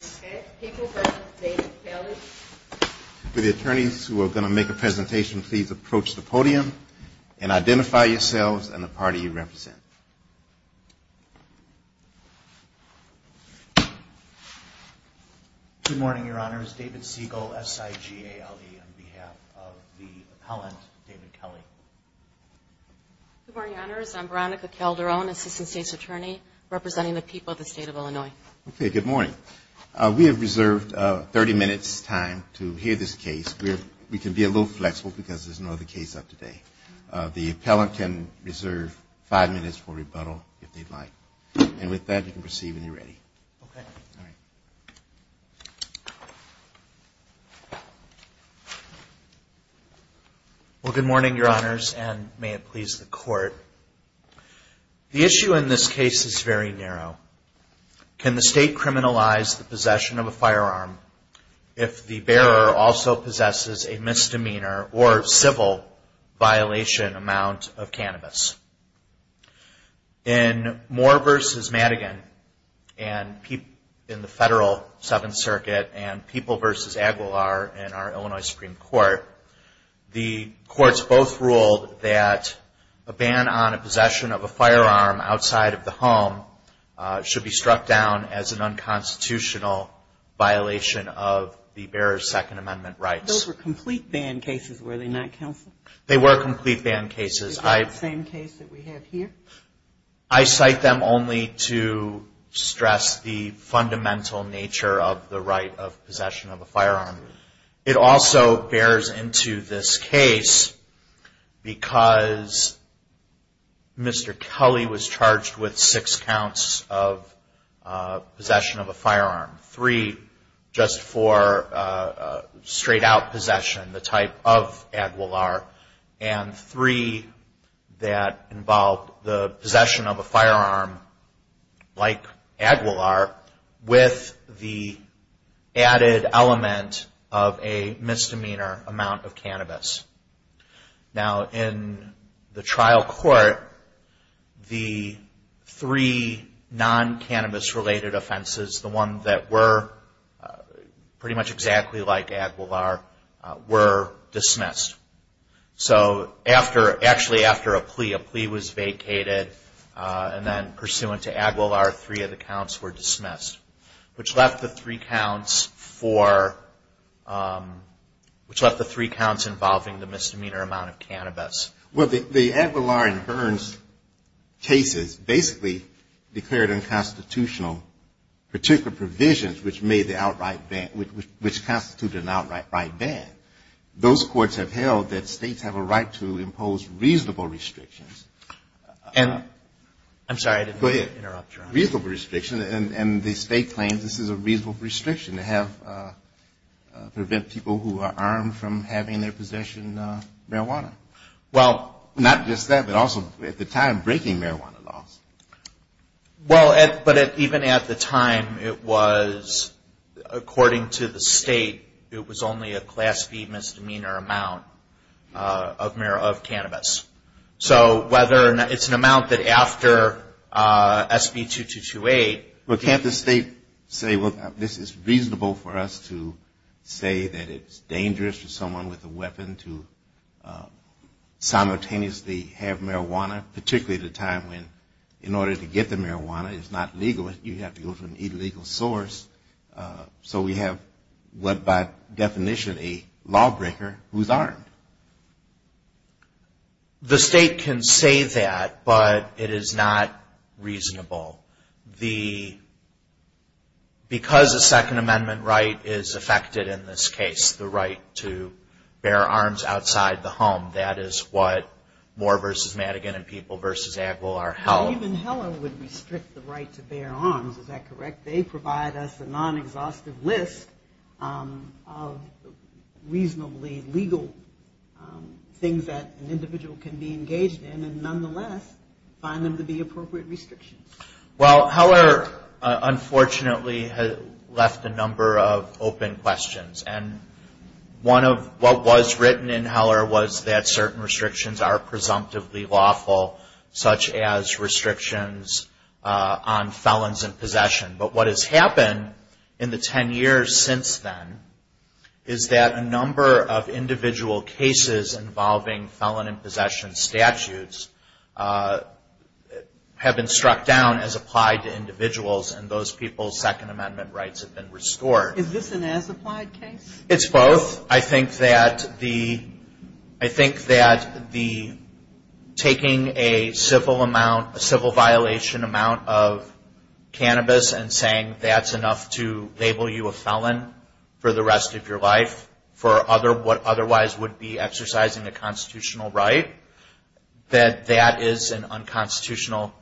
For the attorneys who are going to make a presentation, please approach the podium and identify yourselves and the party you represent. Good morning, Your Honors. David Siegel, SIGALD, on behalf of the appellant, David Kelly. Good morning, Your Honors. I'm Veronica Calderon, Assistant State's Attorney, representing the people of the State of Illinois. Okay, good morning. We have reserved 30 minutes' time to hear this case. We can be a little flexible because there's no other case up today. The appellant can reserve five minutes for rebuttal, if they'd like. And with that, you can proceed when you're ready. Okay. Well, good morning, Your Honors, and may it please the Court. The issue in this case is very narrow. Can the State criminalize the possession of a firearm if the bearer also possesses a misdemeanor or civil violation amount of cannabis? In Moore v. Madigan in the Federal Seventh Circuit and People v. Aguilar in our Illinois Supreme Court, the courts both ruled that a ban on a possession of a firearm outside of the home should be struck down as an unconstitutional violation of the bearer's Second Amendment rights. Those were complete ban cases, were they not, Counsel? They were complete ban cases. Is that the same case that we have here? I cite them only to stress the fundamental nature of the right of possession of a firearm. It also bears into this case because Mr. Kelly was charged with six counts of possession of a firearm, three just for straight out possession, the type of Aguilar, and three that involved the possession of a firearm like Aguilar with the added element of possession of a firearm. misdemeanor amount of cannabis. Now, in the trial court, the three non-cannabis-related offenses, the one that were pretty much exactly like Aguilar, were dismissed. So after, actually after a plea, a plea was vacated, and then pursuant to Aguilar, three of the counts were dismissed, which left the three counts for, which left the three counts involving the misdemeanor amount of cannabis. Well, the Aguilar and Burns cases basically declared unconstitutional particular provisions which made the outright ban, which constituted an outright right ban. Those courts have held that states have a right to impose reasonable restrictions. I'm sorry, I didn't mean to interrupt you. And the state claims this is a reasonable restriction to prevent people who are armed from having their possession of marijuana. Well, not just that, but also at the time, breaking marijuana laws. Well, but even at the time, it was, according to the state, it was only a class B misdemeanor amount of cannabis. So whether, it's an amount that after SB 2228. Well, can't the state say, well, this is reasonable for us to say that it's dangerous for someone with a weapon to simultaneously have marijuana, particularly at a time when, in order to get the marijuana, it's not legal, you have to go to an illegal source, so we have what by definition a lawbreaker who's armed. The state can say that, but it is not reasonable. Because a Second Amendment right is affected in this case, the right to bear arms outside the home, that is what Moore v. Madigan and People v. Aguilar held. Even Heller would restrict the right to bear arms, is that correct? That they provide us a non-exhaustive list of reasonably legal things that an individual can be engaged in, and nonetheless, find them to be appropriate restrictions. Well, Heller unfortunately left a number of open questions. And one of what was written in Heller was that certain restrictions are presumptively lawful, such as restrictions on felons in possession. And what has happened in the ten years since then is that a number of individual cases involving felon in possession statutes have been struck down as applied to individuals, and those people's Second Amendment rights have been restored. Is this an as-applied case? It's both. I think that the taking a civil amount, a civil violation amount of cannabis and saying, well, you can't do this, you can't do that. And saying that's enough to label you a felon for the rest of your life for what otherwise would be exercising a constitutional right, that that is an unconstitutional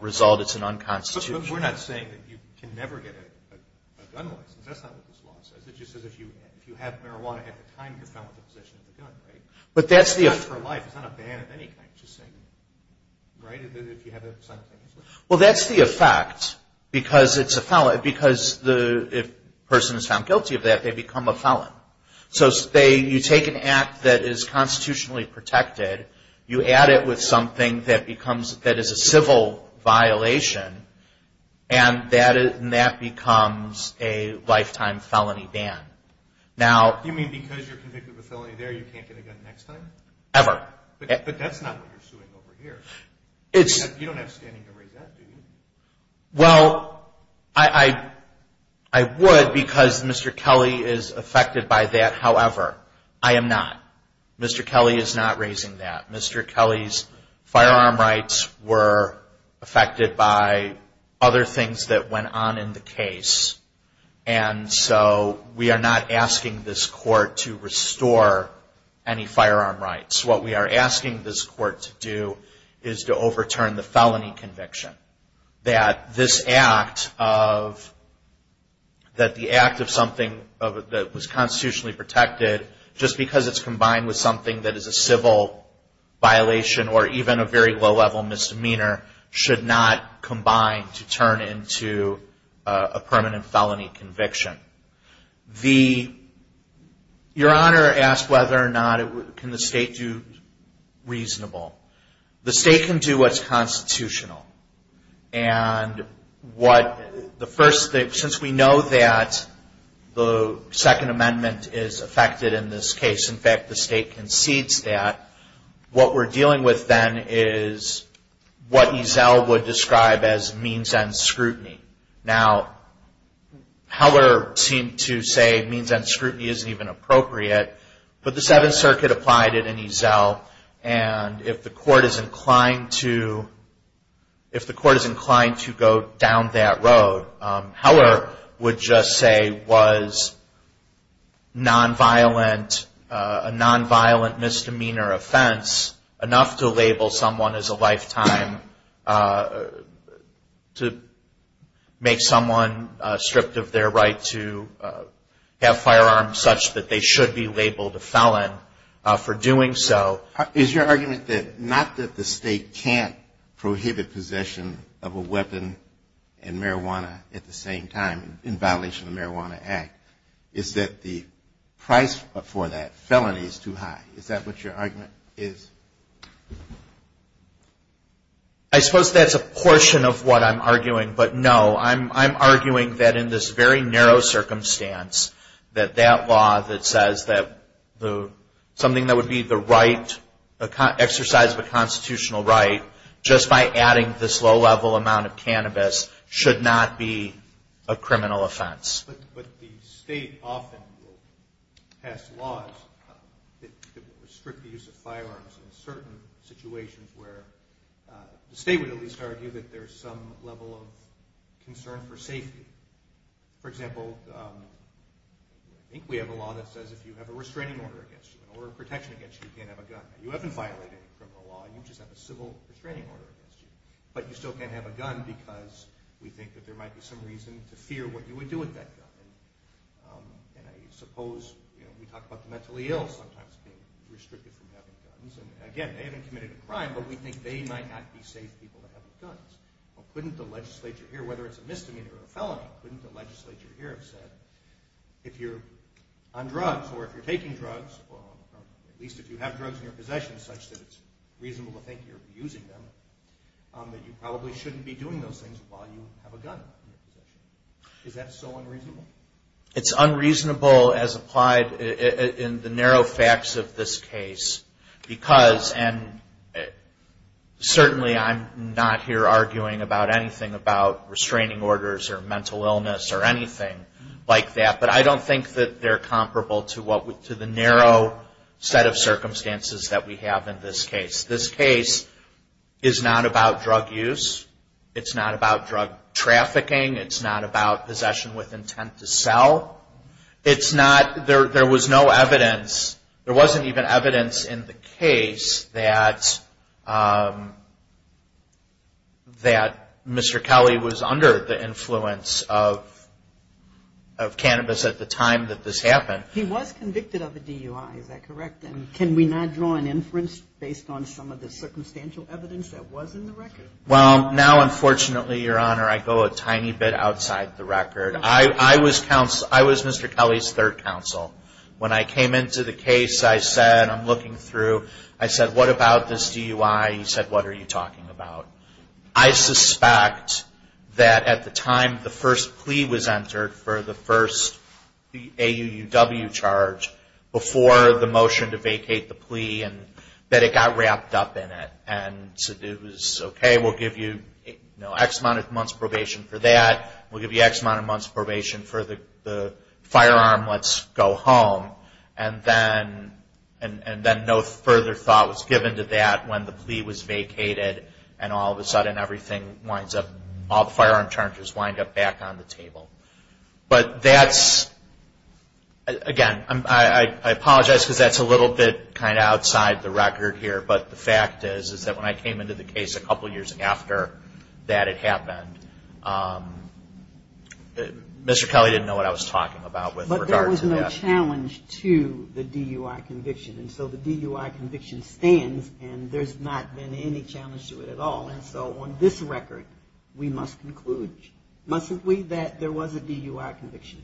result. But we're not saying that you can never get a gun license. That's not what this law says. It just says if you have marijuana at the time you're found with a possession of a gun, right? It's not a ban for life. It's not a ban of any kind. Well, that's the effect, because if a person is found guilty of that, they become a felon. So you take an act that is constitutionally protected, you add it with something that is a civil violation, and that becomes a lifetime felony ban. You mean because you're convicted of a felony there, you can't get a gun next time? Ever. But that's not what you're suing over here. You don't have standing to raise that, do you? Well, I would, because Mr. Kelly is affected by that, however. I am not. Mr. Kelly is not raising that. Mr. Kelly's firearm rights were affected by other things that went on in the case. And so we are not asking this court to restore any firearm rights. What we are asking this court to do is to overturn the felony conviction. That this act of something that was constitutionally protected, just because it's combined with something that is a civil violation or even a very low-level misdemeanor, should not combine to turn into a permanent felony. Your Honor asked whether or not can the state do reasonable. The state can do what's constitutional. And since we know that the Second Amendment is affected in this case, in fact, the state concedes that, what we're dealing with then is what Ezel would describe as means-end scrutiny. Now, Heller seemed to say means-end scrutiny isn't even appropriate, but the Seventh Circuit applied it in Ezel. And if the court is inclined to go down that road, Heller would just say was a non-violent misdemeanor offense, enough to label someone as a lifetime, to make someone stripped of their right to have firearms such that they should be labeled a felon for doing so. Is your argument that not that the state can't prohibit possession of a weapon and marijuana at the same time in violation of the Marijuana Act? Is that the price for that felony is too high? Is that what your argument is? I suppose that's a portion of what I'm arguing, but no, I'm arguing that in this very narrow circumstance, that that law that says that something that would be the right exercise of a constitutional right, just by adding this low-level amount of cannabis, should not be a criminal offense. But the state often will pass laws that will restrict the use of firearms in certain situations where the state can't prohibit the use of firearms. The state would at least argue that there's some level of concern for safety. For example, I think we have a law that says if you have a restraining order against you, an order of protection against you, you can't have a gun. You haven't violated any criminal law, you just have a civil restraining order against you. But you still can't have a gun because we think that there might be some reason to fear what you would do with that gun. And I suppose we talk about the mentally ill sometimes being restricted from having guns. And again, they haven't committed a crime, but we think they might not be safe people to have guns. Couldn't the legislature here, whether it's a misdemeanor or a felony, couldn't the legislature here have said, if you're on drugs or if you're taking drugs, at least if you have drugs in your possession such that it's reasonable to think you're abusing them, that you probably shouldn't be doing those things while you have a gun. Is that so unreasonable? It's unreasonable as applied in the narrow facts of this case. Because, and certainly I'm not here arguing about anything about restraining orders or mental illness or anything like that. But I don't think that they're comparable to the narrow set of circumstances that we have in this case. This case is not about drug use. It's not about drug trafficking. It's not about possession with intent to sell. There was no evidence, there wasn't even evidence in the case that Mr. Kelly was under the influence of cannabis at the time that this happened. He was convicted of a DUI, is that correct? And can we not draw an inference based on some of the circumstantial evidence that was in the record? Well, now unfortunately, Your Honor, I go a tiny bit outside the record. I was Mr. Kelly's third counsel. When I came into the case, I said, I'm looking through, I said, what about this DUI? He said, what are you talking about? I suspect that at the time the first plea was entered for the first AUUW charge, before the motion to vacate the plea, that it got wrapped up in it. And said, okay, we'll give you X amount of months probation for that. We'll give you X amount of months probation for the firearm. Let's go home. And then no further thought was given to that when the plea was vacated and all of a sudden everything winds up, all the firearm charges wind up back on the table. But that's, again, I apologize because that's a little bit kind of outside the record here. But the fact is, is that when I came into the case a couple years after that had happened, Mr. Kelly didn't know what I was talking about with regard to that. And so that was a challenge to the DUI conviction. And so the DUI conviction stands and there's not been any challenge to it at all. And so on this record, we must conclude, mustn't we, that there was a DUI conviction?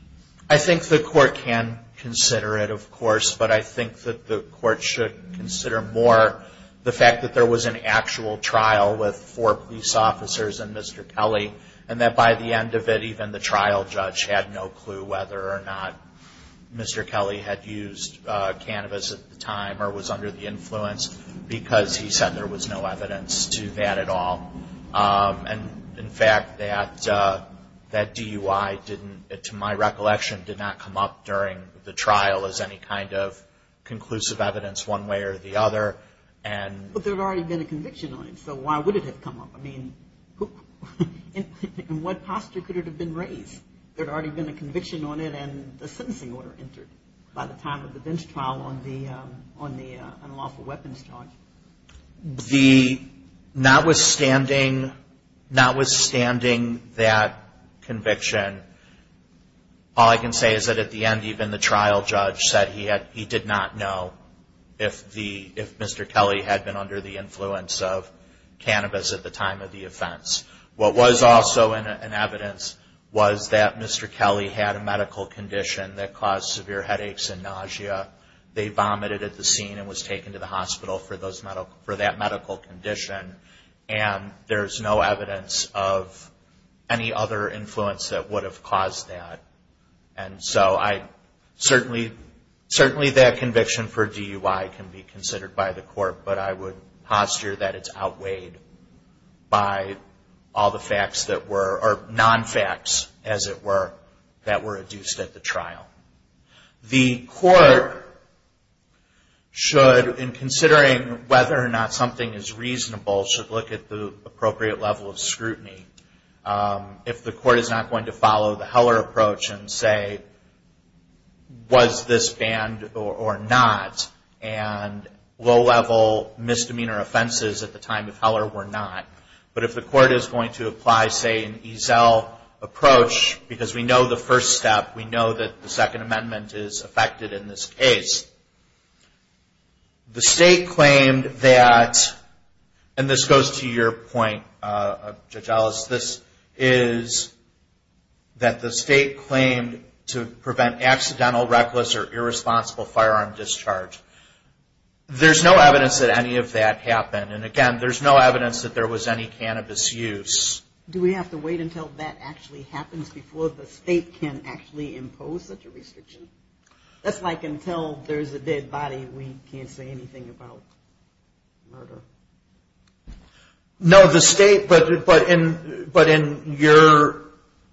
I think the court can consider it, of course. But I think that the court should consider more the fact that there was an actual trial with four police officers and Mr. Kelly. And that by the end of it, even the trial judge had no clue whether or not Mr. Kelly had used cannabis at the time or was under the influence because he said there was no evidence to that at all. And, in fact, that DUI didn't, to my recollection, did not come up during the trial as any kind of conclusive evidence one way or the other. But there had already been a conviction on it, so why would it have come up? I mean, in what posture could it have been raised? There had already been a conviction on it and a sentencing order entered by the time of the bench trial on the unlawful weapons charge. Notwithstanding that conviction, all I can say is that at the end, even the trial judge said he did not know if Mr. Kelly had used cannabis or if Mr. Kelly had been under the influence of cannabis at the time of the offense. What was also in evidence was that Mr. Kelly had a medical condition that caused severe headaches and nausea. They vomited at the scene and was taken to the hospital for that medical condition. And there's no evidence of any other influence that would have caused that. And so I certainly, certainly that conviction for DUI can be considered by the court. But I would posture that it's outweighed by all the facts that were, or non-facts, as it were, that were adduced at the trial. The court should, in considering whether or not something is reasonable, should look at the appropriate level of scrutiny. If the court is not going to follow the Heller approach and say, was this banned or not, and low-level misdemeanor offenses at the time of Heller were not. But if the court is going to apply, say, an Ezell approach, because we know the first step, we know that the Second Amendment is affected in this case. The state claimed that, and this goes to your point, Judge Ellis, this is that the state claimed to prevent accidental, reckless, or irresponsible firearm discharge. There's no evidence that any of that happened. And again, there's no evidence that there was any cannabis use. Do we have to wait until that actually happens before the state can actually impose such a restriction? That's like until there's a dead body, we can't say anything about murder. No, the state, but in your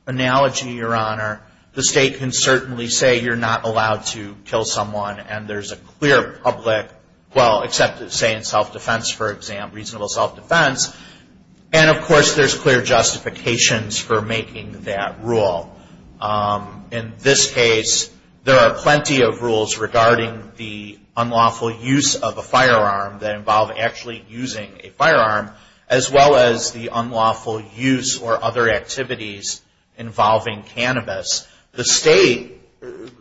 analogy, Your Honor, the state can certainly say you're not allowed to kill someone, and there's a clear public, well, except, say, in self-defense, for example, reasonable self-defense, and of course there's clear justifications for making that rule. In this case, there are plenty of rules regarding the unlawful use of a firearm that involve actually using a firearm, as well as the unlawful use or other activities involving cannabis. The state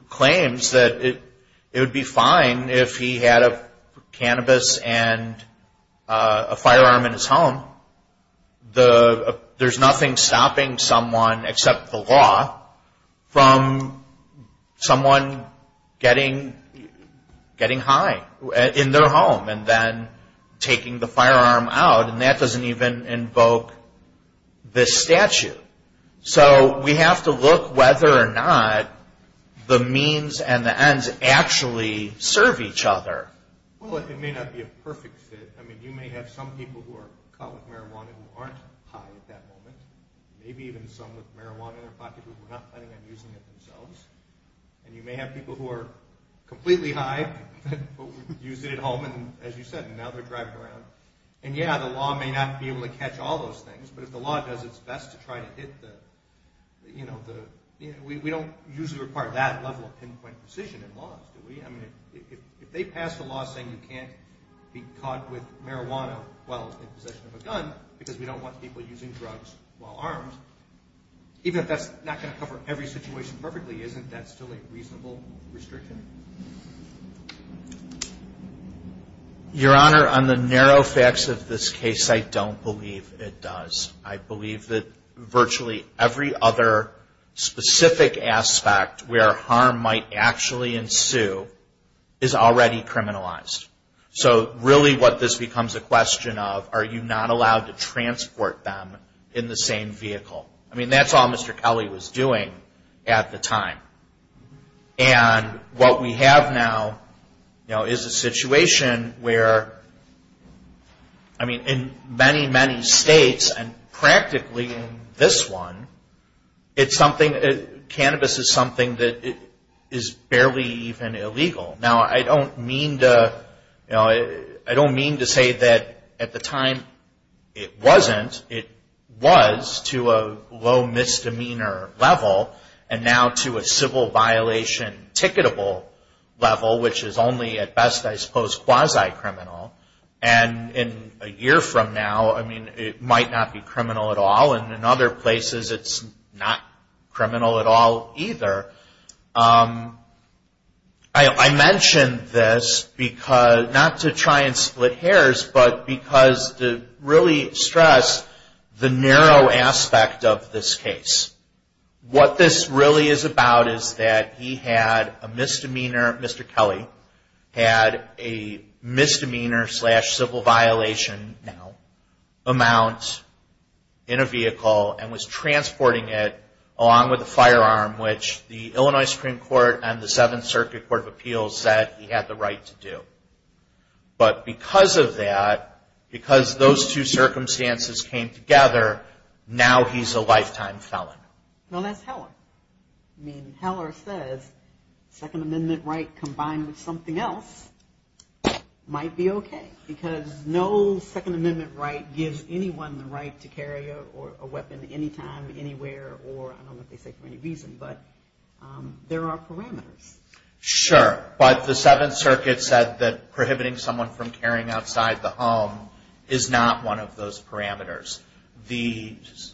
claims that it would be fine if he had a cannabis and a firearm in his home. There's nothing stopping someone, except the law, from someone getting high in their home and then taking the firearm out, and that doesn't even invoke this statute. So we have to look whether or not the means and the ends actually serve each other. Well, it may not be a perfect fit. I mean, you may have some people who are caught with marijuana who aren't high at that moment, maybe even some with marijuana in their pocket who are not planning on using it themselves, and you may have people who are completely high but use it at home, and as you said, now they're driving around. And yeah, the law may not be able to catch all those things, but if the law does its best to try to hit the, you know, we don't usually require that level of pinpoint precision in laws, do we? I mean, if they pass a law saying you can't be caught with marijuana while in possession of a gun because we don't want people using drugs while armed, even if that's not going to cover every situation perfectly, isn't that still a reasonable restriction? Your Honor, on the narrow facts of this case, I don't believe it does. I believe that virtually every other specific aspect where harm might actually ensue is already criminalized. So really what this becomes a question of, are you not allowed to transport them in the same vehicle? I mean, that's all Mr. Kelly was doing at the time. And what we have now, you know, is a situation where, I mean, in many, many states, and practically in this one, it's something, cannabis is something that is barely even illegal. Now, I don't mean to, you know, I don't mean to say that at the time it wasn't. It was to a low misdemeanor level, and now to a civil violation ticketable level, which is only at best, I suppose, quasi-criminal. And a year from now, I mean, it might not be criminal at all, and in other places it's not criminal at all either. I mention this because, not to try and split hairs, but because to really stress the narrow aspect of this case. What this really is about is that he had a misdemeanor, Mr. Kelly, had a misdemeanor slash civil violation amount in a vehicle and was transporting it along with a firearm, which the Illinois Supreme Court and the Seventh Circuit Court of Appeals said he had the right to do. But because of that, because those two circumstances came together, now he's a lifetime felon. No, that's Heller. I mean, Heller says Second Amendment right combined with something else might be okay, because no Second Amendment right gives anyone the right to carry a weapon anytime, anywhere, or I don't know what they say, for any reason, but there are parameters. Sure, but the Seventh Circuit said that prohibiting someone from carrying outside the home is not one of those parameters.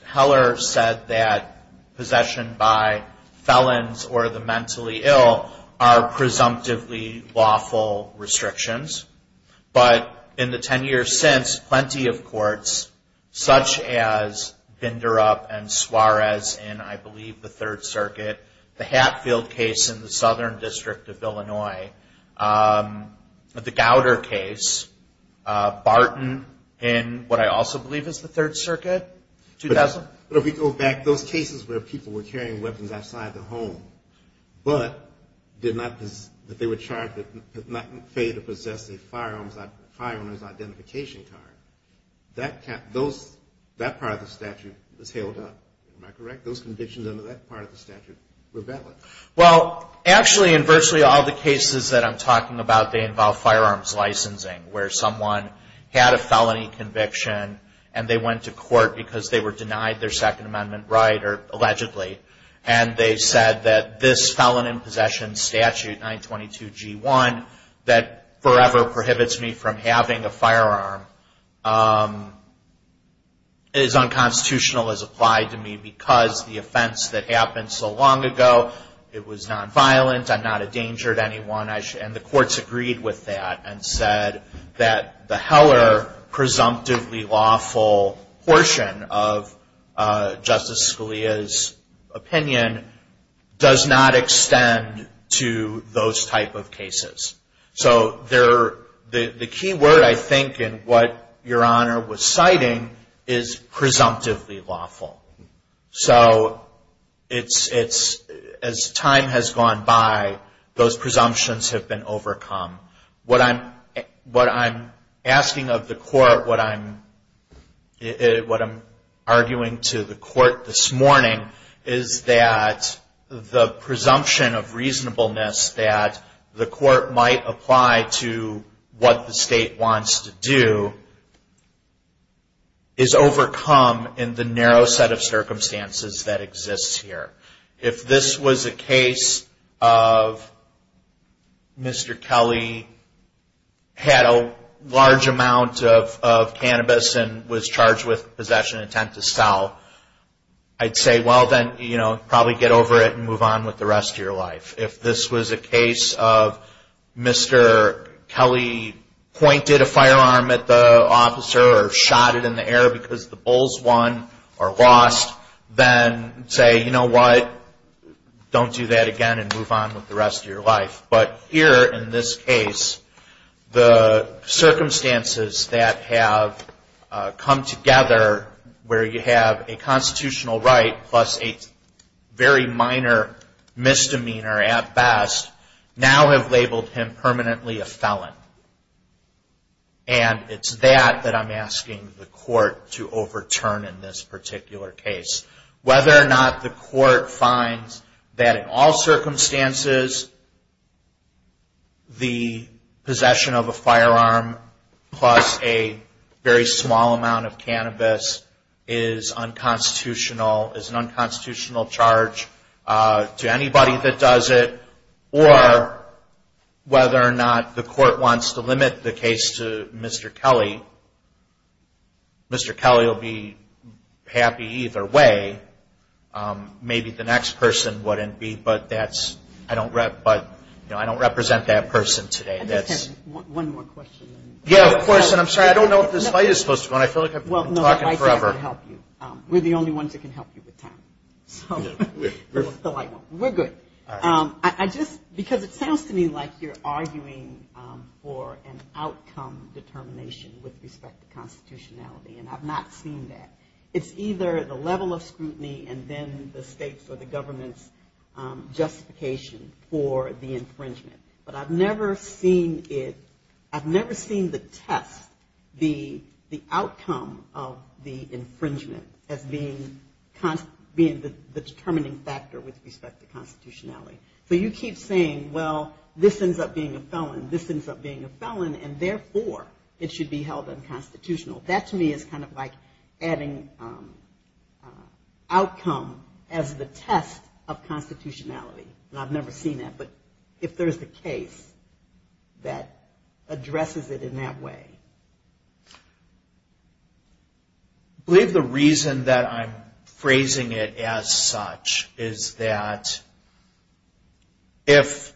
Heller said that possession by felons or the mentally ill are presumptively lawful restrictions. But in the ten years since, plenty of courts, such as Binderup and Suarez in, I believe, the Third Circuit, the Hatfield case in the Southern District of Illinois, the Gowder case, Barton in what I also believe is the Third Circuit. But if we go back, those cases where people were carrying weapons outside the home, but did not, that they were charged, did not fail to possess a firearmer's identification card, that part of the statute was held up, am I correct? Those convictions under that part of the statute were valid. Well, actually, in virtually all the cases that I'm talking about, they involve firearms licensing, where someone had a felony conviction and they went to court because they were denied their Second Amendment right, or allegedly. And they said that this felon in possession statute, 922G1, that forever prohibits me from having a firearm, is unconstitutional as because the offense that happened so long ago, it was nonviolent, I'm not a danger to anyone, and the courts agreed with that and said that the Heller presumptively lawful portion of Justice Scalia's opinion does not extend to those type of cases. So the key word, I think, in what Your Honor was citing is so it's, as time has gone by, those presumptions have been overcome. What I'm asking of the court, what I'm arguing to the court this morning, is that the presumption of reasonableness that the court might apply to what the state wants to do is overcome in the narrow set of circumstances that exists here. If this was a case of Mr. Kelly had a large amount of cannabis and was charged with possession intent to sell, I'd say well then, you know, probably get over it and move on with the rest of your life. If this was a case of Mr. Kelly pointed a firearm at the officer or shot it in the air because the bulls won or lost, then say, you know what, don't do that again and move on with the rest of your life. But here in this case, the circumstances that have come together where you have a constitutional right plus a very minor misdemeanor at best, now have labeled him permanently a felon. And it's that that I'm asking the court to overturn in this particular case. Whether or not the court finds that in all circumstances the possession of a firearm plus a very small amount of cannabis is an unconstitutional charge to anybody that does it, or whether or not the court wants to limit the case to Mr. Kelly, Mr. Kelly will be happy either way. Maybe the next person wouldn't be, but I don't represent that person today. We're the only ones that can help you with time. We're good. I just, because it sounds to me like you're arguing for an outcome determination with respect to constitutionality, and I've not seen that. It's either the level of scrutiny and then the state's or the government's justification for the infringement. But I've never seen it, I've never seen the test, the outcome of the infringement as being the determining factor with respect to constitutionality. So you keep saying, well, this ends up being a felon, this ends up being a felon, and therefore it should be held unconstitutional. That to me is kind of like adding outcome as the test of constitutionality. And I've never seen that, but if there's a case that addresses it in that way. I believe the reason that I'm phrasing it as such is that if,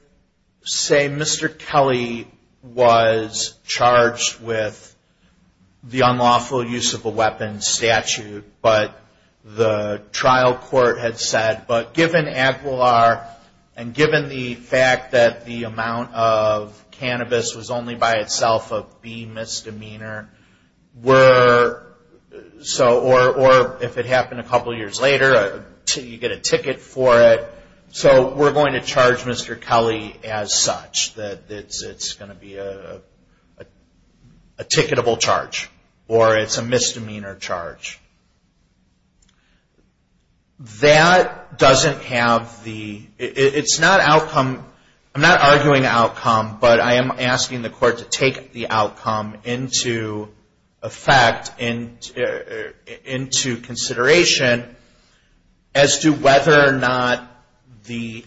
say Mr. Kelly was charged with the unlawful use of a weapon statute, but the trial court had said, but given Aquilar, and given the fact that the amount of cannabis was only by itself a B misdemeanor, or if it happened a couple years later, you get a ticket for it, so we're going to charge Mr. Kelly as such, that it's going to be a ticketable charge, or it's a misdemeanor charge. That doesn't have the, it's not outcome, I'm not arguing outcome, but I am asking the court to take the outcome into effect, into consideration, as to whether or not the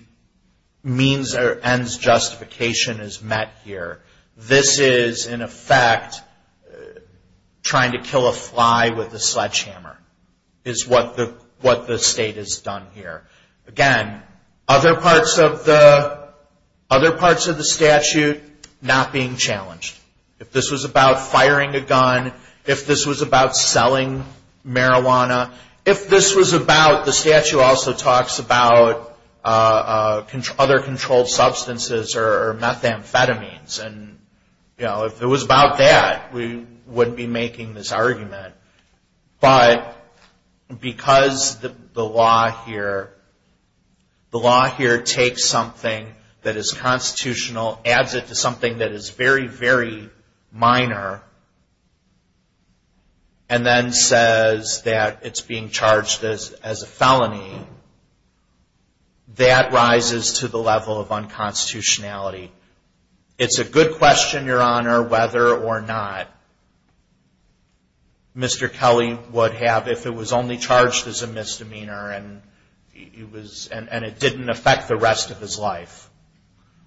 means or ends justification is met here. This is in effect trying to kill a fly with a sledgehammer, is what the state has done here. Again, other parts of the If this was about selling marijuana, if this was about, the statute also talks about other controlled substances, or methamphetamines, and if it was about that, we wouldn't be making this argument, but because the law here, the law here takes something that is constitutional, adds it to something that is very, very minor, and then says that it's being charged as a felony, that rises to the level of unconstitutionality. It's a good question, Your Honor, whether or not Mr. Kelly would have, if it was only charged as a misdemeanor, and it didn't affect the rest of his life,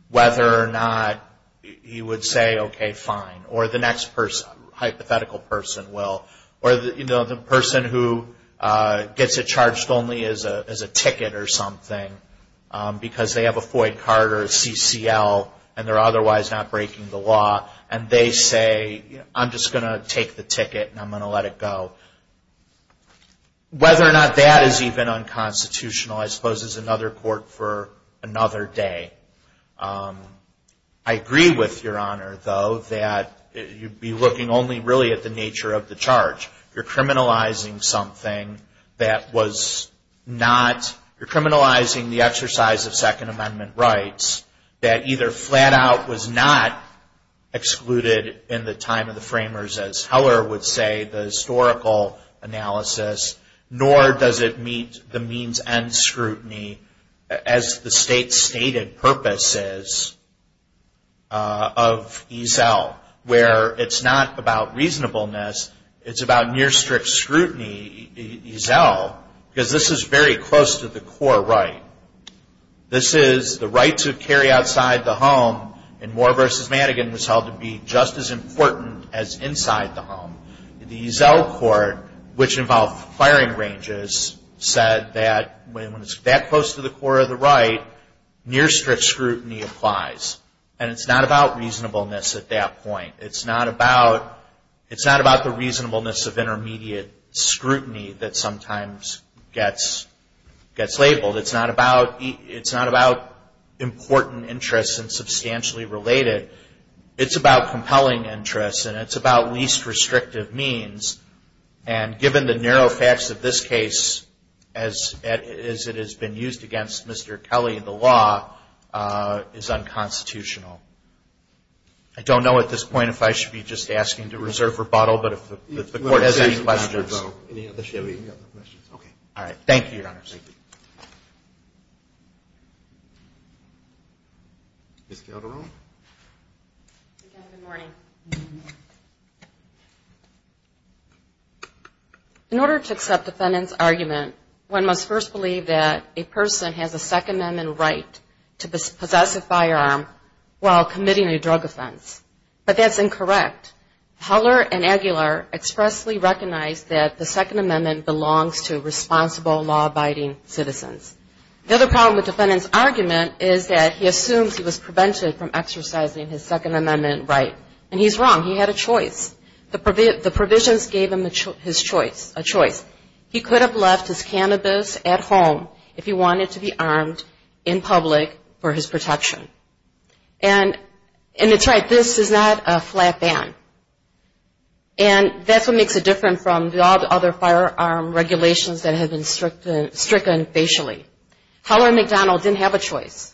whether or not he would say, okay, fine, or the next hypothetical person will, or the person who gets it charged only as a ticket or something, because they have a FOIA card or a CCL, and they're otherwise not breaking the law, and they say, I'm just going to take the ticket, and I'm going to let it go. Whether or not that is even unconstitutional, I suppose, is another court for another day. I agree with Your Honor, though, that you'd be looking only, really, at the nature of the charge. You're criminalizing something that was not, you're criminalizing the exercise of Second Amendment rights that either flat out was not excluded in the time of the framers, as Heller would say, the historical analysis, nor does it meet the means end scrutiny, as the state's stated purpose is, of EZEL, where it's not about reasonableness, it's about near strict scrutiny EZEL, because this is very close to the core right. This is the right to carry outside the home, and Moore v. Madigan was held to be just as important as inside the home. The EZEL court, which involved firing ranges, said that when it's that close to the core of the right, near strict scrutiny applies, and it's not about reasonableness at that point. It's not about the reasonableness of intermediate scrutiny that sometimes gets labeled. It's not about important interests and substantially related. It's about compelling interests, and it's about least restrictive means, and given the narrow facts of this case, as it has been used against Mr. Kelly, the law is unconstitutional. I don't know at this point if I should be just asking to reserve rebuttal, but if the court has any questions. Thank you, Your Honors. Ms. Calderon. In order to accept defendant's argument, one must first believe that a person has a Second Amendment right to protect. Heller and Aguilar expressly recognized that the Second Amendment belongs to responsible, law-abiding citizens. The other problem with defendant's argument is that he assumes he was prevented from exercising his Second Amendment right, and he's wrong. He had a choice. The provisions gave him his choice. He could have left his cannabis at home if he wanted to be armed in public for his protection. And it's right, this is not a flat ban. And that's what makes it different from all the other firearm regulations that have been stricken facially. Heller and McDonald didn't have a choice.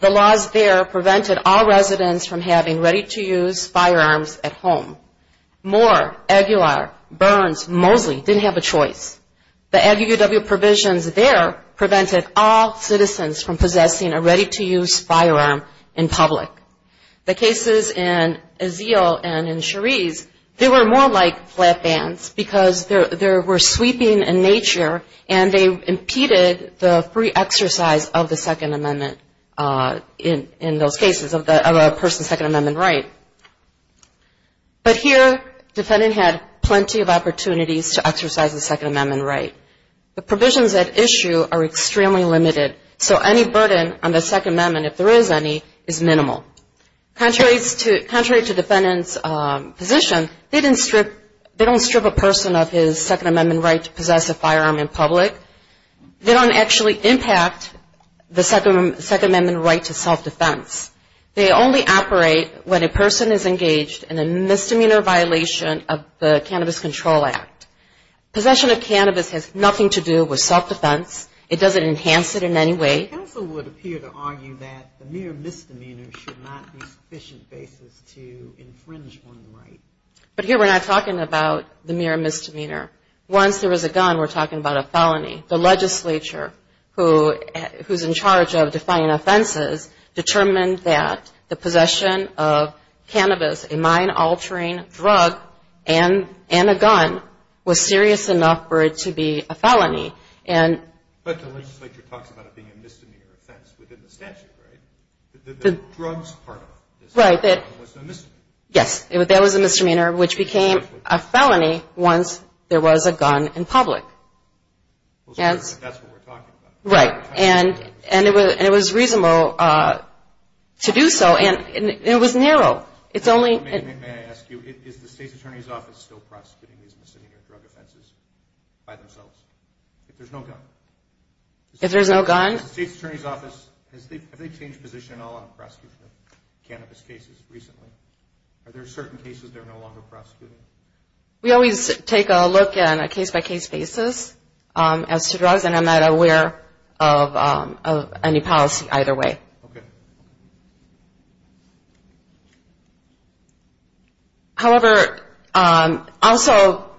The laws there prevented all residents from having ready-to-use firearms at home. Moore, Aguilar, Burns, Mosley didn't have a choice. The cases in Azeal and in Cherise, they were more like flat bans, because they were sweeping in nature, and they impeded the free exercise of the Second Amendment in those cases, of a person's Second Amendment right. But here, defendant had plenty of opportunities to exercise his Second Amendment right. The provisions at issue are extremely limited, so any burden on the Second Amendment, if there is any, is minimal. Contrary to defendant's position, they don't strip a person of his Second Amendment right to possess a firearm in public. They don't actually impact the Second Amendment right to self-defense. They only operate when a person is engaged in a misdemeanor violation of the Cannabis Control Act. Possession of cannabis has nothing to do with self-defense. It doesn't enhance it in any way. But here we're not talking about the mere misdemeanor. Once there was a gun, we're talking about a felony. The legislature, who's in charge of defining offenses, determined that the possession of cannabis, a misdemeanor, was serious enough for it to be a felony. But the legislature talks about it being a misdemeanor offense within the statute, right? The drugs part of it was a misdemeanor. Yes, that was a misdemeanor, which became a felony once there was a gun in public. That's what we're talking about. Right, and it was reasonable to do so, and it was narrow. May I ask you, is the State's Attorney's Office still prosecuting these misdemeanor drug offenses by themselves, if there's no gun? If there's no gun? The State's Attorney's Office, have they changed position at all on prosecuting cannabis cases recently? Are there certain cases they're no longer prosecuting? We always take a look on a case-by-case basis as to drugs, and I'm not aware of any policy either way. Okay. However, also,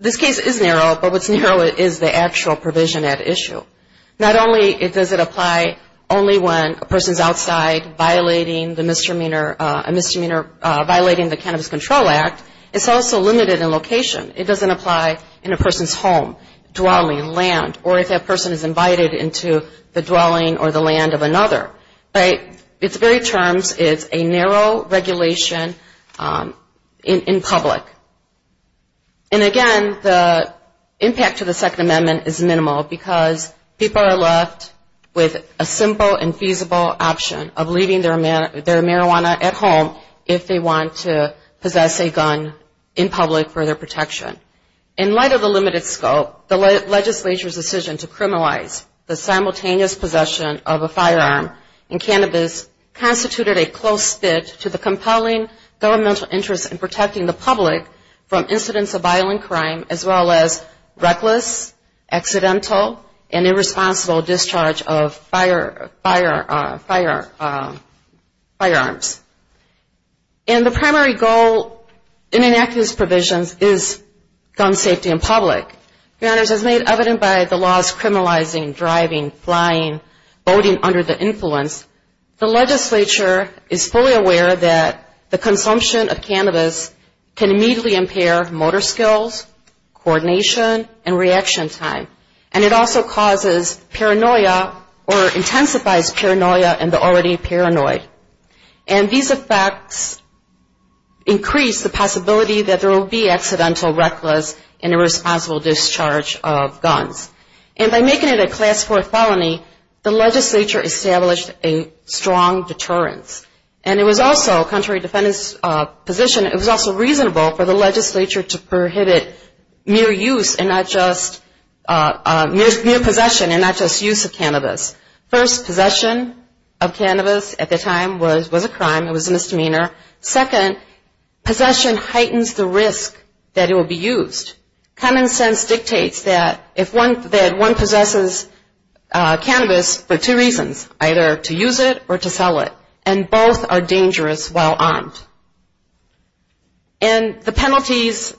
this case is narrow, but what's narrow is the actual provision at issue. Not only does it apply only when a person's outside violating the Cannabis Control Act, it's also limited in location. It doesn't apply in a land of another, right? It's very terms, it's a narrow regulation in public. And again, the impact to the Second Amendment is minimal, because people are left with a simple and feasible option of leaving their marijuana at home if they want to possess a gun in public for their protection. In light of the limited scope, the legislature's decision to criminalize the simultaneous possession of a firearm and cannabis constituted a close fit to the compelling governmental interest in protecting the public from incidents of violent crime, as well as reckless, accidental and irresponsible discharge of firearms. And the primary goal in enacting these provisions is gun safety in public. Your Honors, as made evident by the laws criminalizing driving, flying, boating under the influence, the legislature is fully aware that the consumption of cannabis can immediately impair motor skills, coordination and reaction time, and it also causes paranoia or anxiety. And these effects increase the possibility that there will be accidental, reckless and irresponsible discharge of guns. And by making it a class 4 felony, the legislature established a strong deterrence. And it was also, contrary to the defendant's position, it was also reasonable for the legislature to prohibit mere use and not just, mere time, it was a misdemeanor. Second, possession heightens the risk that it will be used. Common sense dictates that if one, that one possesses cannabis for two reasons, either to use it or to sell it, and both are dangerous while armed. And the penalties,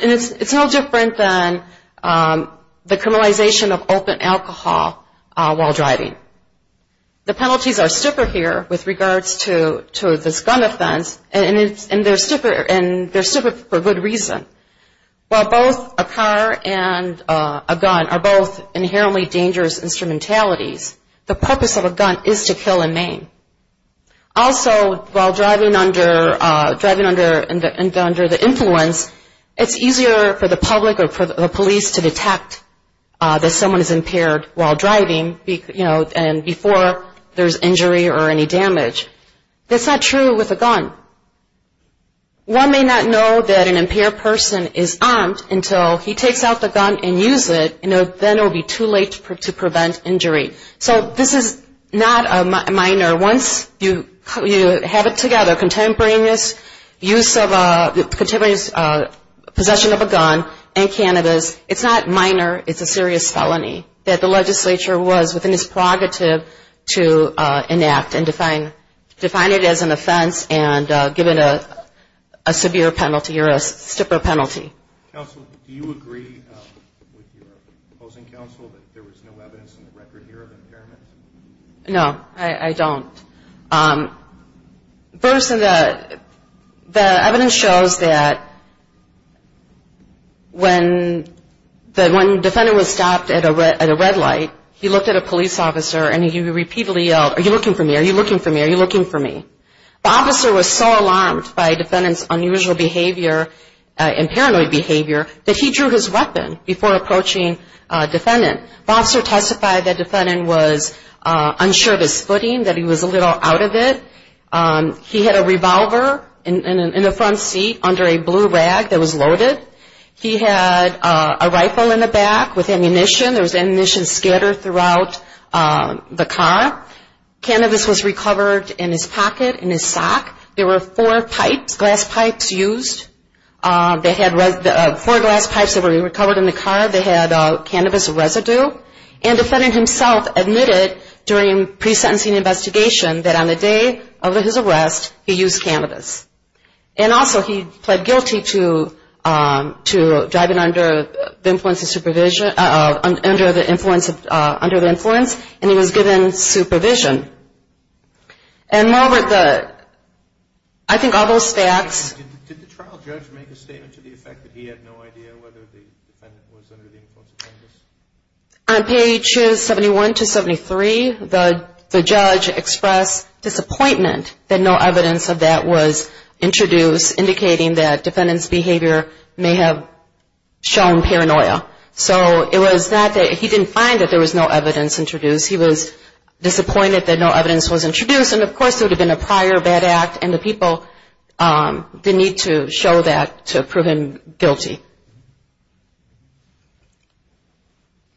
it's no different than the criminalization of open alcohol while driving. The penalties are stiffer here with regards to this gun offense, and they're stiffer for good reason. While both a car and a gun are both inherently dangerous instrumentalities, the purpose of a gun is to kill and maim. Also, while driving under the influence, it's easier for the public or for the police to detect that someone is impaired while driving, you know, and before there's injury or any damage. That's not true with a gun. One may not know that an impaired person is armed until he takes out the gun and use it, and then it will be too late to prevent injury. So this is not a minor, once you have it together, contemporaneous use of a, contemporaneous possession of a gun and cannabis, it's not minor, it's a major to enact and define it as an offense and given a severe penalty or a stiffer penalty. Q. Counsel, do you agree with your opposing counsel that there was no evidence in the record here of impairment? A. No, I don't. First, the evidence shows that when the defendant was armed, he repeatedly yelled, are you looking for me, are you looking for me, are you looking for me? The officer was so alarmed by the defendant's unusual behavior and paranoid behavior that he drew his weapon before approaching the defendant. The officer testified that the defendant was unsure of his footing, that he was a little out of it. He had a revolver in the front seat under a blue rag that was loaded. He had a rifle in the back with ammunition. There was ammunition scattered throughout the car. Cannabis was recovered in his pocket, in his sock. There were four pipes, glass pipes used. They had four glass pipes that were recovered in the car. They had cannabis residue. And the defendant himself admitted during the pre-sentencing investigation that on the day of his arrest, he used cannabis. And also he pled guilty to driving under the influence of supervision, under the influence, and he was given supervision. And Margaret, I think all those facts Q. Did the trial judge make a statement to the effect that he had no idea whether the defendant was under the influence of cannabis? A. On pages 71 to 73, the judge expressed disappointment that no evidence of that was introduced, indicating that defendant's behavior may have shown paranoia. So it was not that he didn't find that there was no evidence introduced. He was disappointed that no evidence was introduced. And of course, the medical, the need to show that to prove him guilty.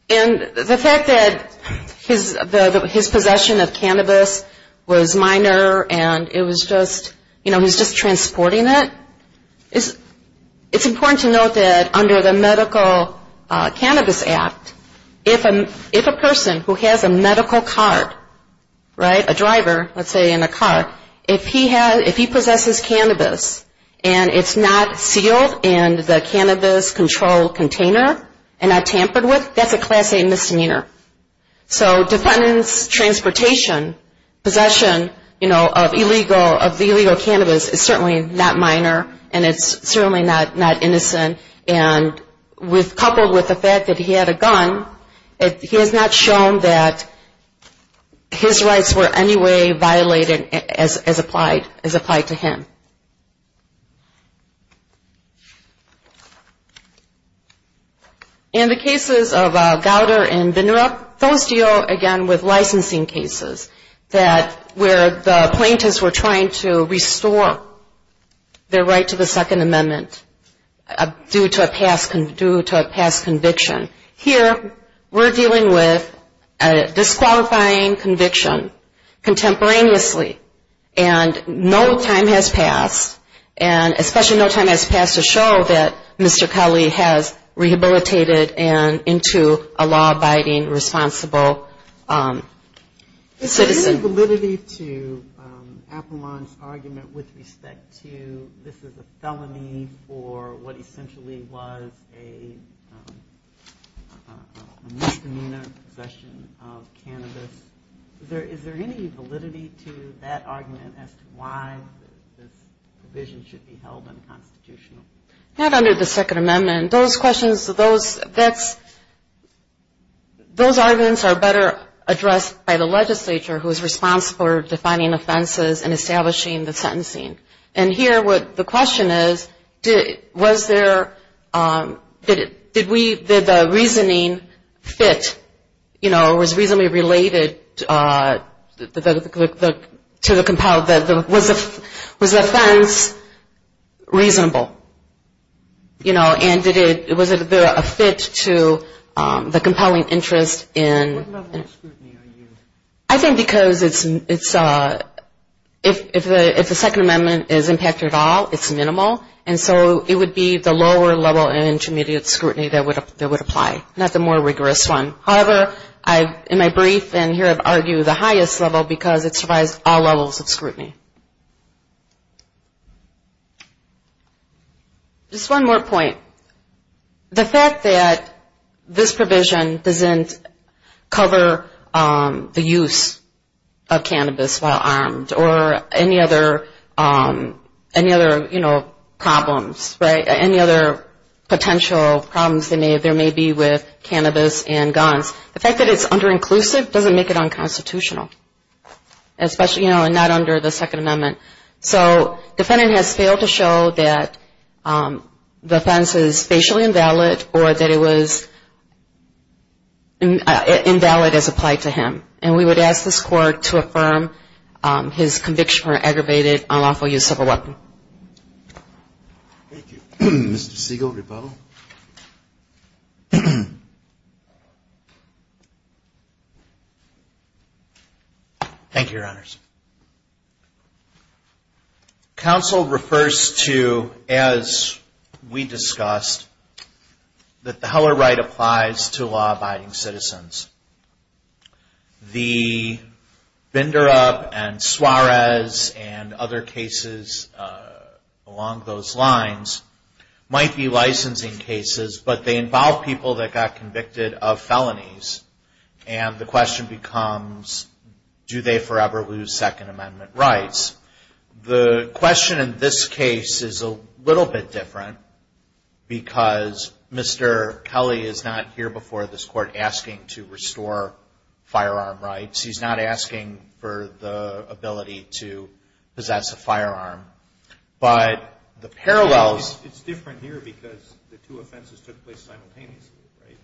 And the fact that his possession of cannabis was minor and it was just, you know, he was just transporting it, it's important to note that under the medical cannabis act, if a person who has a medical card, right, a driver, let's say in a car, if he possesses cannabis and it's not sealed in the cannabis control container and not tampered with, that's a Class A misdemeanor. So defendant's transportation, possession, you know, of illegal cannabis is certainly not minor and it's certainly not innocent. And coupled with the fact that he had a gun, he has not shown that his rights were in any way violated as applied to him. In the cases of Gouder and Vindrup, those deal, again, with licensing cases that where the plaintiffs were trying to restore their right to the Second Amendment due to a past conviction. Here, we're dealing with a disqualifying conviction contemporaneously and no time has passed, and especially no time has passed to show that Mr. Culley has rehabilitated and into a law-abiding, responsible citizen. Is there validity to Appelman's argument with respect to this is a felony for what essentially was a misdemeanor possession of cannabis? Is there any validity to that argument as to why this provision should be held unconstitutional? Not under the Second Amendment. Those questions, those arguments are better addressed by the legislature, who is responsible for defining offenses and establishing the sentencing. And here, the question is, was there, did we, did the reasoning fit, you know, was reasonably related to the, was the offense reasonable? You know, and was there a fit to the compelling interest in I think because it's, if the Second Amendment is impacted at all, it's so, it would be the lower level of intermediate scrutiny that would apply, not the more rigorous one. However, in my brief in here, I've argued the highest level because it survives all levels of scrutiny. Just one more point. The fact that this provision doesn't cover the use of cannabis while armed or any other, you know, problem, the fact that it's under inclusive doesn't make it unconstitutional. Especially, you know, and not under the Second Amendment. So the defendant has failed to show that the offense is facially invalid or that it was invalid as applied to him. And we would ask this court to affirm his conviction for aggravated unlawful use of a weapon. Thank you. Mr. Siegel, rebuttal. Thank you, Your Honors. Counsel refers to, as we discussed, that the Heller right applies to law up and Suarez and other cases along those lines might be licensing cases, but they involve people that got convicted of felonies. And the question becomes, do they forever lose Second Amendment rights? The question in this case is a little bit different because Mr. Kelly is not here before this and has the ability to possess a firearm. But the parallels... It's different here because the two offenses took place simultaneously, right?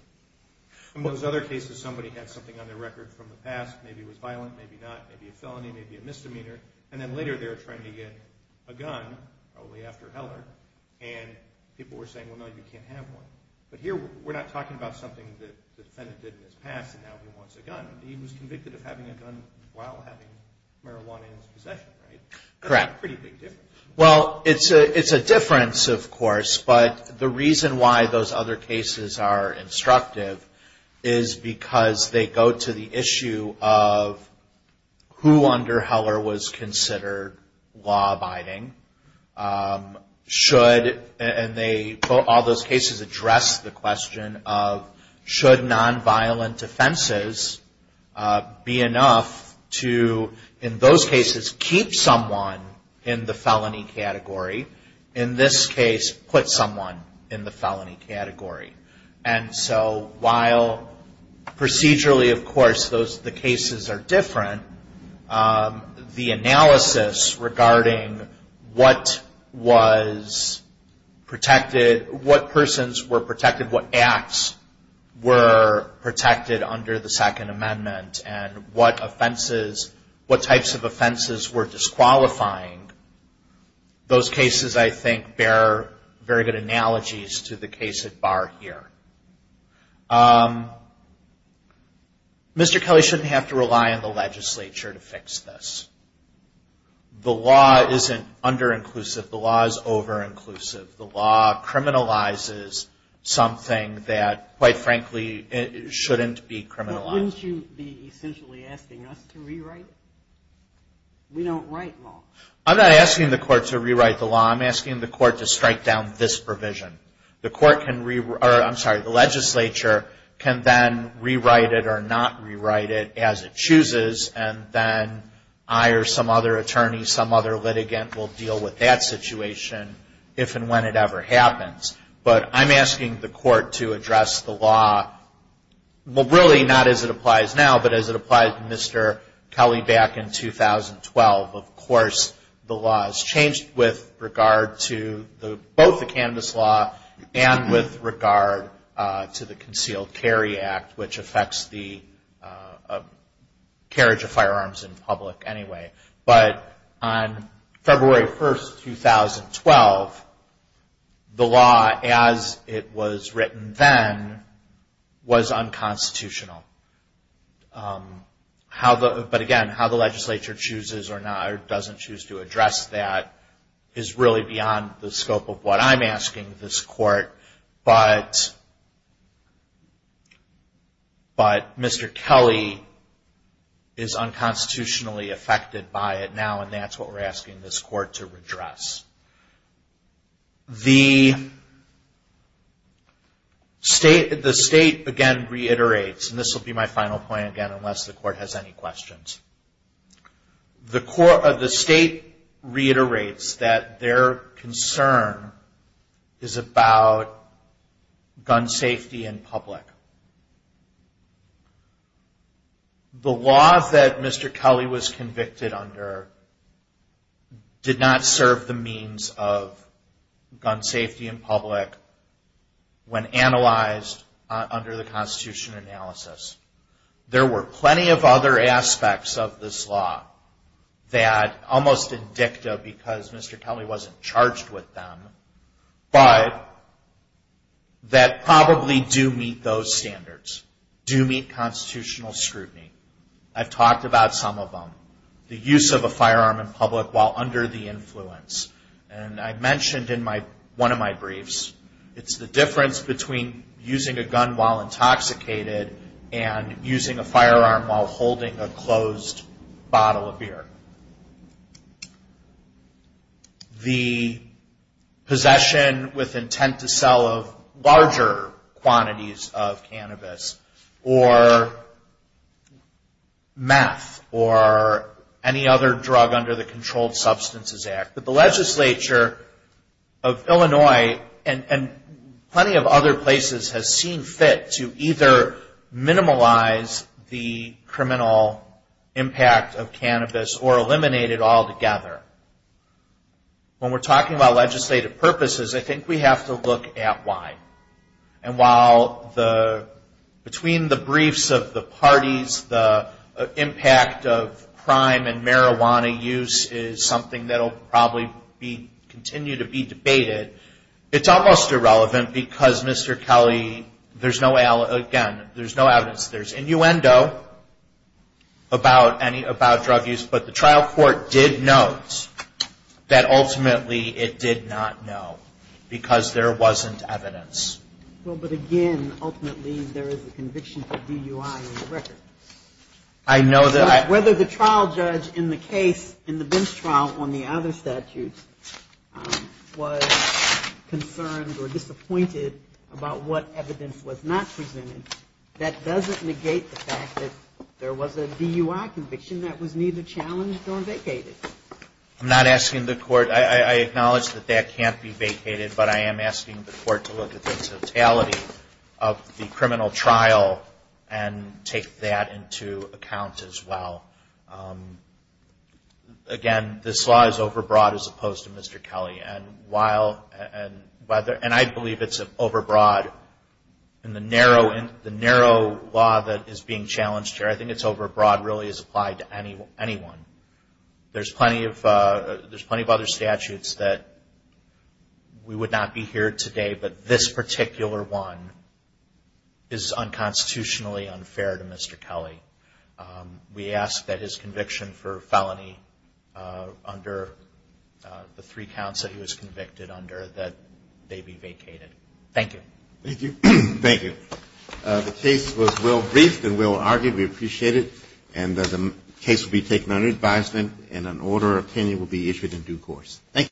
In those other cases, somebody had something on their record from the past. Maybe it was violent, maybe not. Maybe a felony, maybe a misdemeanor. And then later they were trying to get a gun, probably after Heller, and people were saying, well, no, you can't have one. But here we're not talking about something that the defendant did in his past and now he wants a gun. He was convicted of having a gun while having marijuana in his possession, right? That's a pretty big difference. Well, it's a difference, of course, but the reason why those other cases are law-abiding should, and they, all those cases address the question of should nonviolent offenses be enough to, in those cases, keep someone in the felony category? In this case, put someone in the felony category. And so while procedurally, of course, the cases are different, the analysis regarding what was protected, what persons were protected, what acts were protected under the Second Amendment, and what offenses, what types of offenses were disqualifying, those cases, I think, bear very good analogies to the case at bar here. Mr. Kelly shouldn't have to rely on the legislature to fix this. The law isn't under-inclusive. The law is over-inclusive. The law criminalizes something that, quite frankly, shouldn't be criminalized. But wouldn't you be essentially asking us to rewrite it? We don't write law. I'm not asking the court to rewrite the law. I'm asking the court to strike that the legislature can then rewrite it or not rewrite it as it chooses, and then I or some other attorney, some other litigant will deal with that situation if and when it ever happens. But I'm asking the court to address the law, well, really not as it applies now, but as it applied to Mr. Kelly back in 2012. Of course, the law has changed with regard to both the Concealed Carry Act, which affects the carriage of firearms in public anyway. But on February 1, 2012, the law as it was written then was unconstitutional. But again, how the legislature chooses or doesn't choose to address that is really beyond the scope of what I'm asking this court to address. But Mr. Kelly is unconstitutionally affected by it now, and that's what we're asking this court to address. The state, again, reiterates, and this will be my final point, again, unless the court has any questions. The state reiterates that their concern is about gun safety and public. The law that Mr. Kelly was convicted under did not serve the means of gun safety in public when analyzed under the Constitution analysis. There were plenty of other aspects of this law that almost indicta because Mr. Kelly wasn't charged with them, but that probably do mean that the law doesn't meet those standards, do meet constitutional scrutiny. I've talked about some of them. The use of a firearm in public while under the influence. And I mentioned in one of my briefs, it's the difference between using a gun while intoxicated and using a firearm while holding a closed bottle of beer. The possession with intent to sell of larger quantities of cannabis or meth or any other drug under the Controlled Substances Act. But the legislature of Illinois and plenty of other places has seen fit to either minimize the criminal impact of cannabis or eliminate it altogether. When we're talking about legislative purposes, I think we have to look at why. And while between the briefs of the parties, the impact of crime and marijuana use is something that will probably continue to be debated, it's almost irrelevant because Mr. Kelly, again, there's no evidence. There's innuendo about drug use, but the trial court did note that ultimately it did not know because there wasn't evidence. But again, ultimately there is a conviction for DUI on the record. I know that. Whether the trial judge in the case, in the Bench trial on the other statutes was concerned or disappointed about what evidence was not presented, that doesn't negate the fact that there was a DUI conviction that was neither challenged or vacated. I'm not asking the court. I acknowledge that that can't be vacated, but I am asking the court to look at the totality of the criminal trial and take that into account as well. Again, this law is overbroad as opposed to Mr. Kelly. And I believe it's overbroad in the narrow law that is being challenged here. I think it's overbroad really as applied to anyone. There's plenty of other statutes that we would not be here today, but this particular one is unconstitutionally unfair to Mr. Kelly. We ask that his conviction for felony under the three statutes be vacated. Thank you.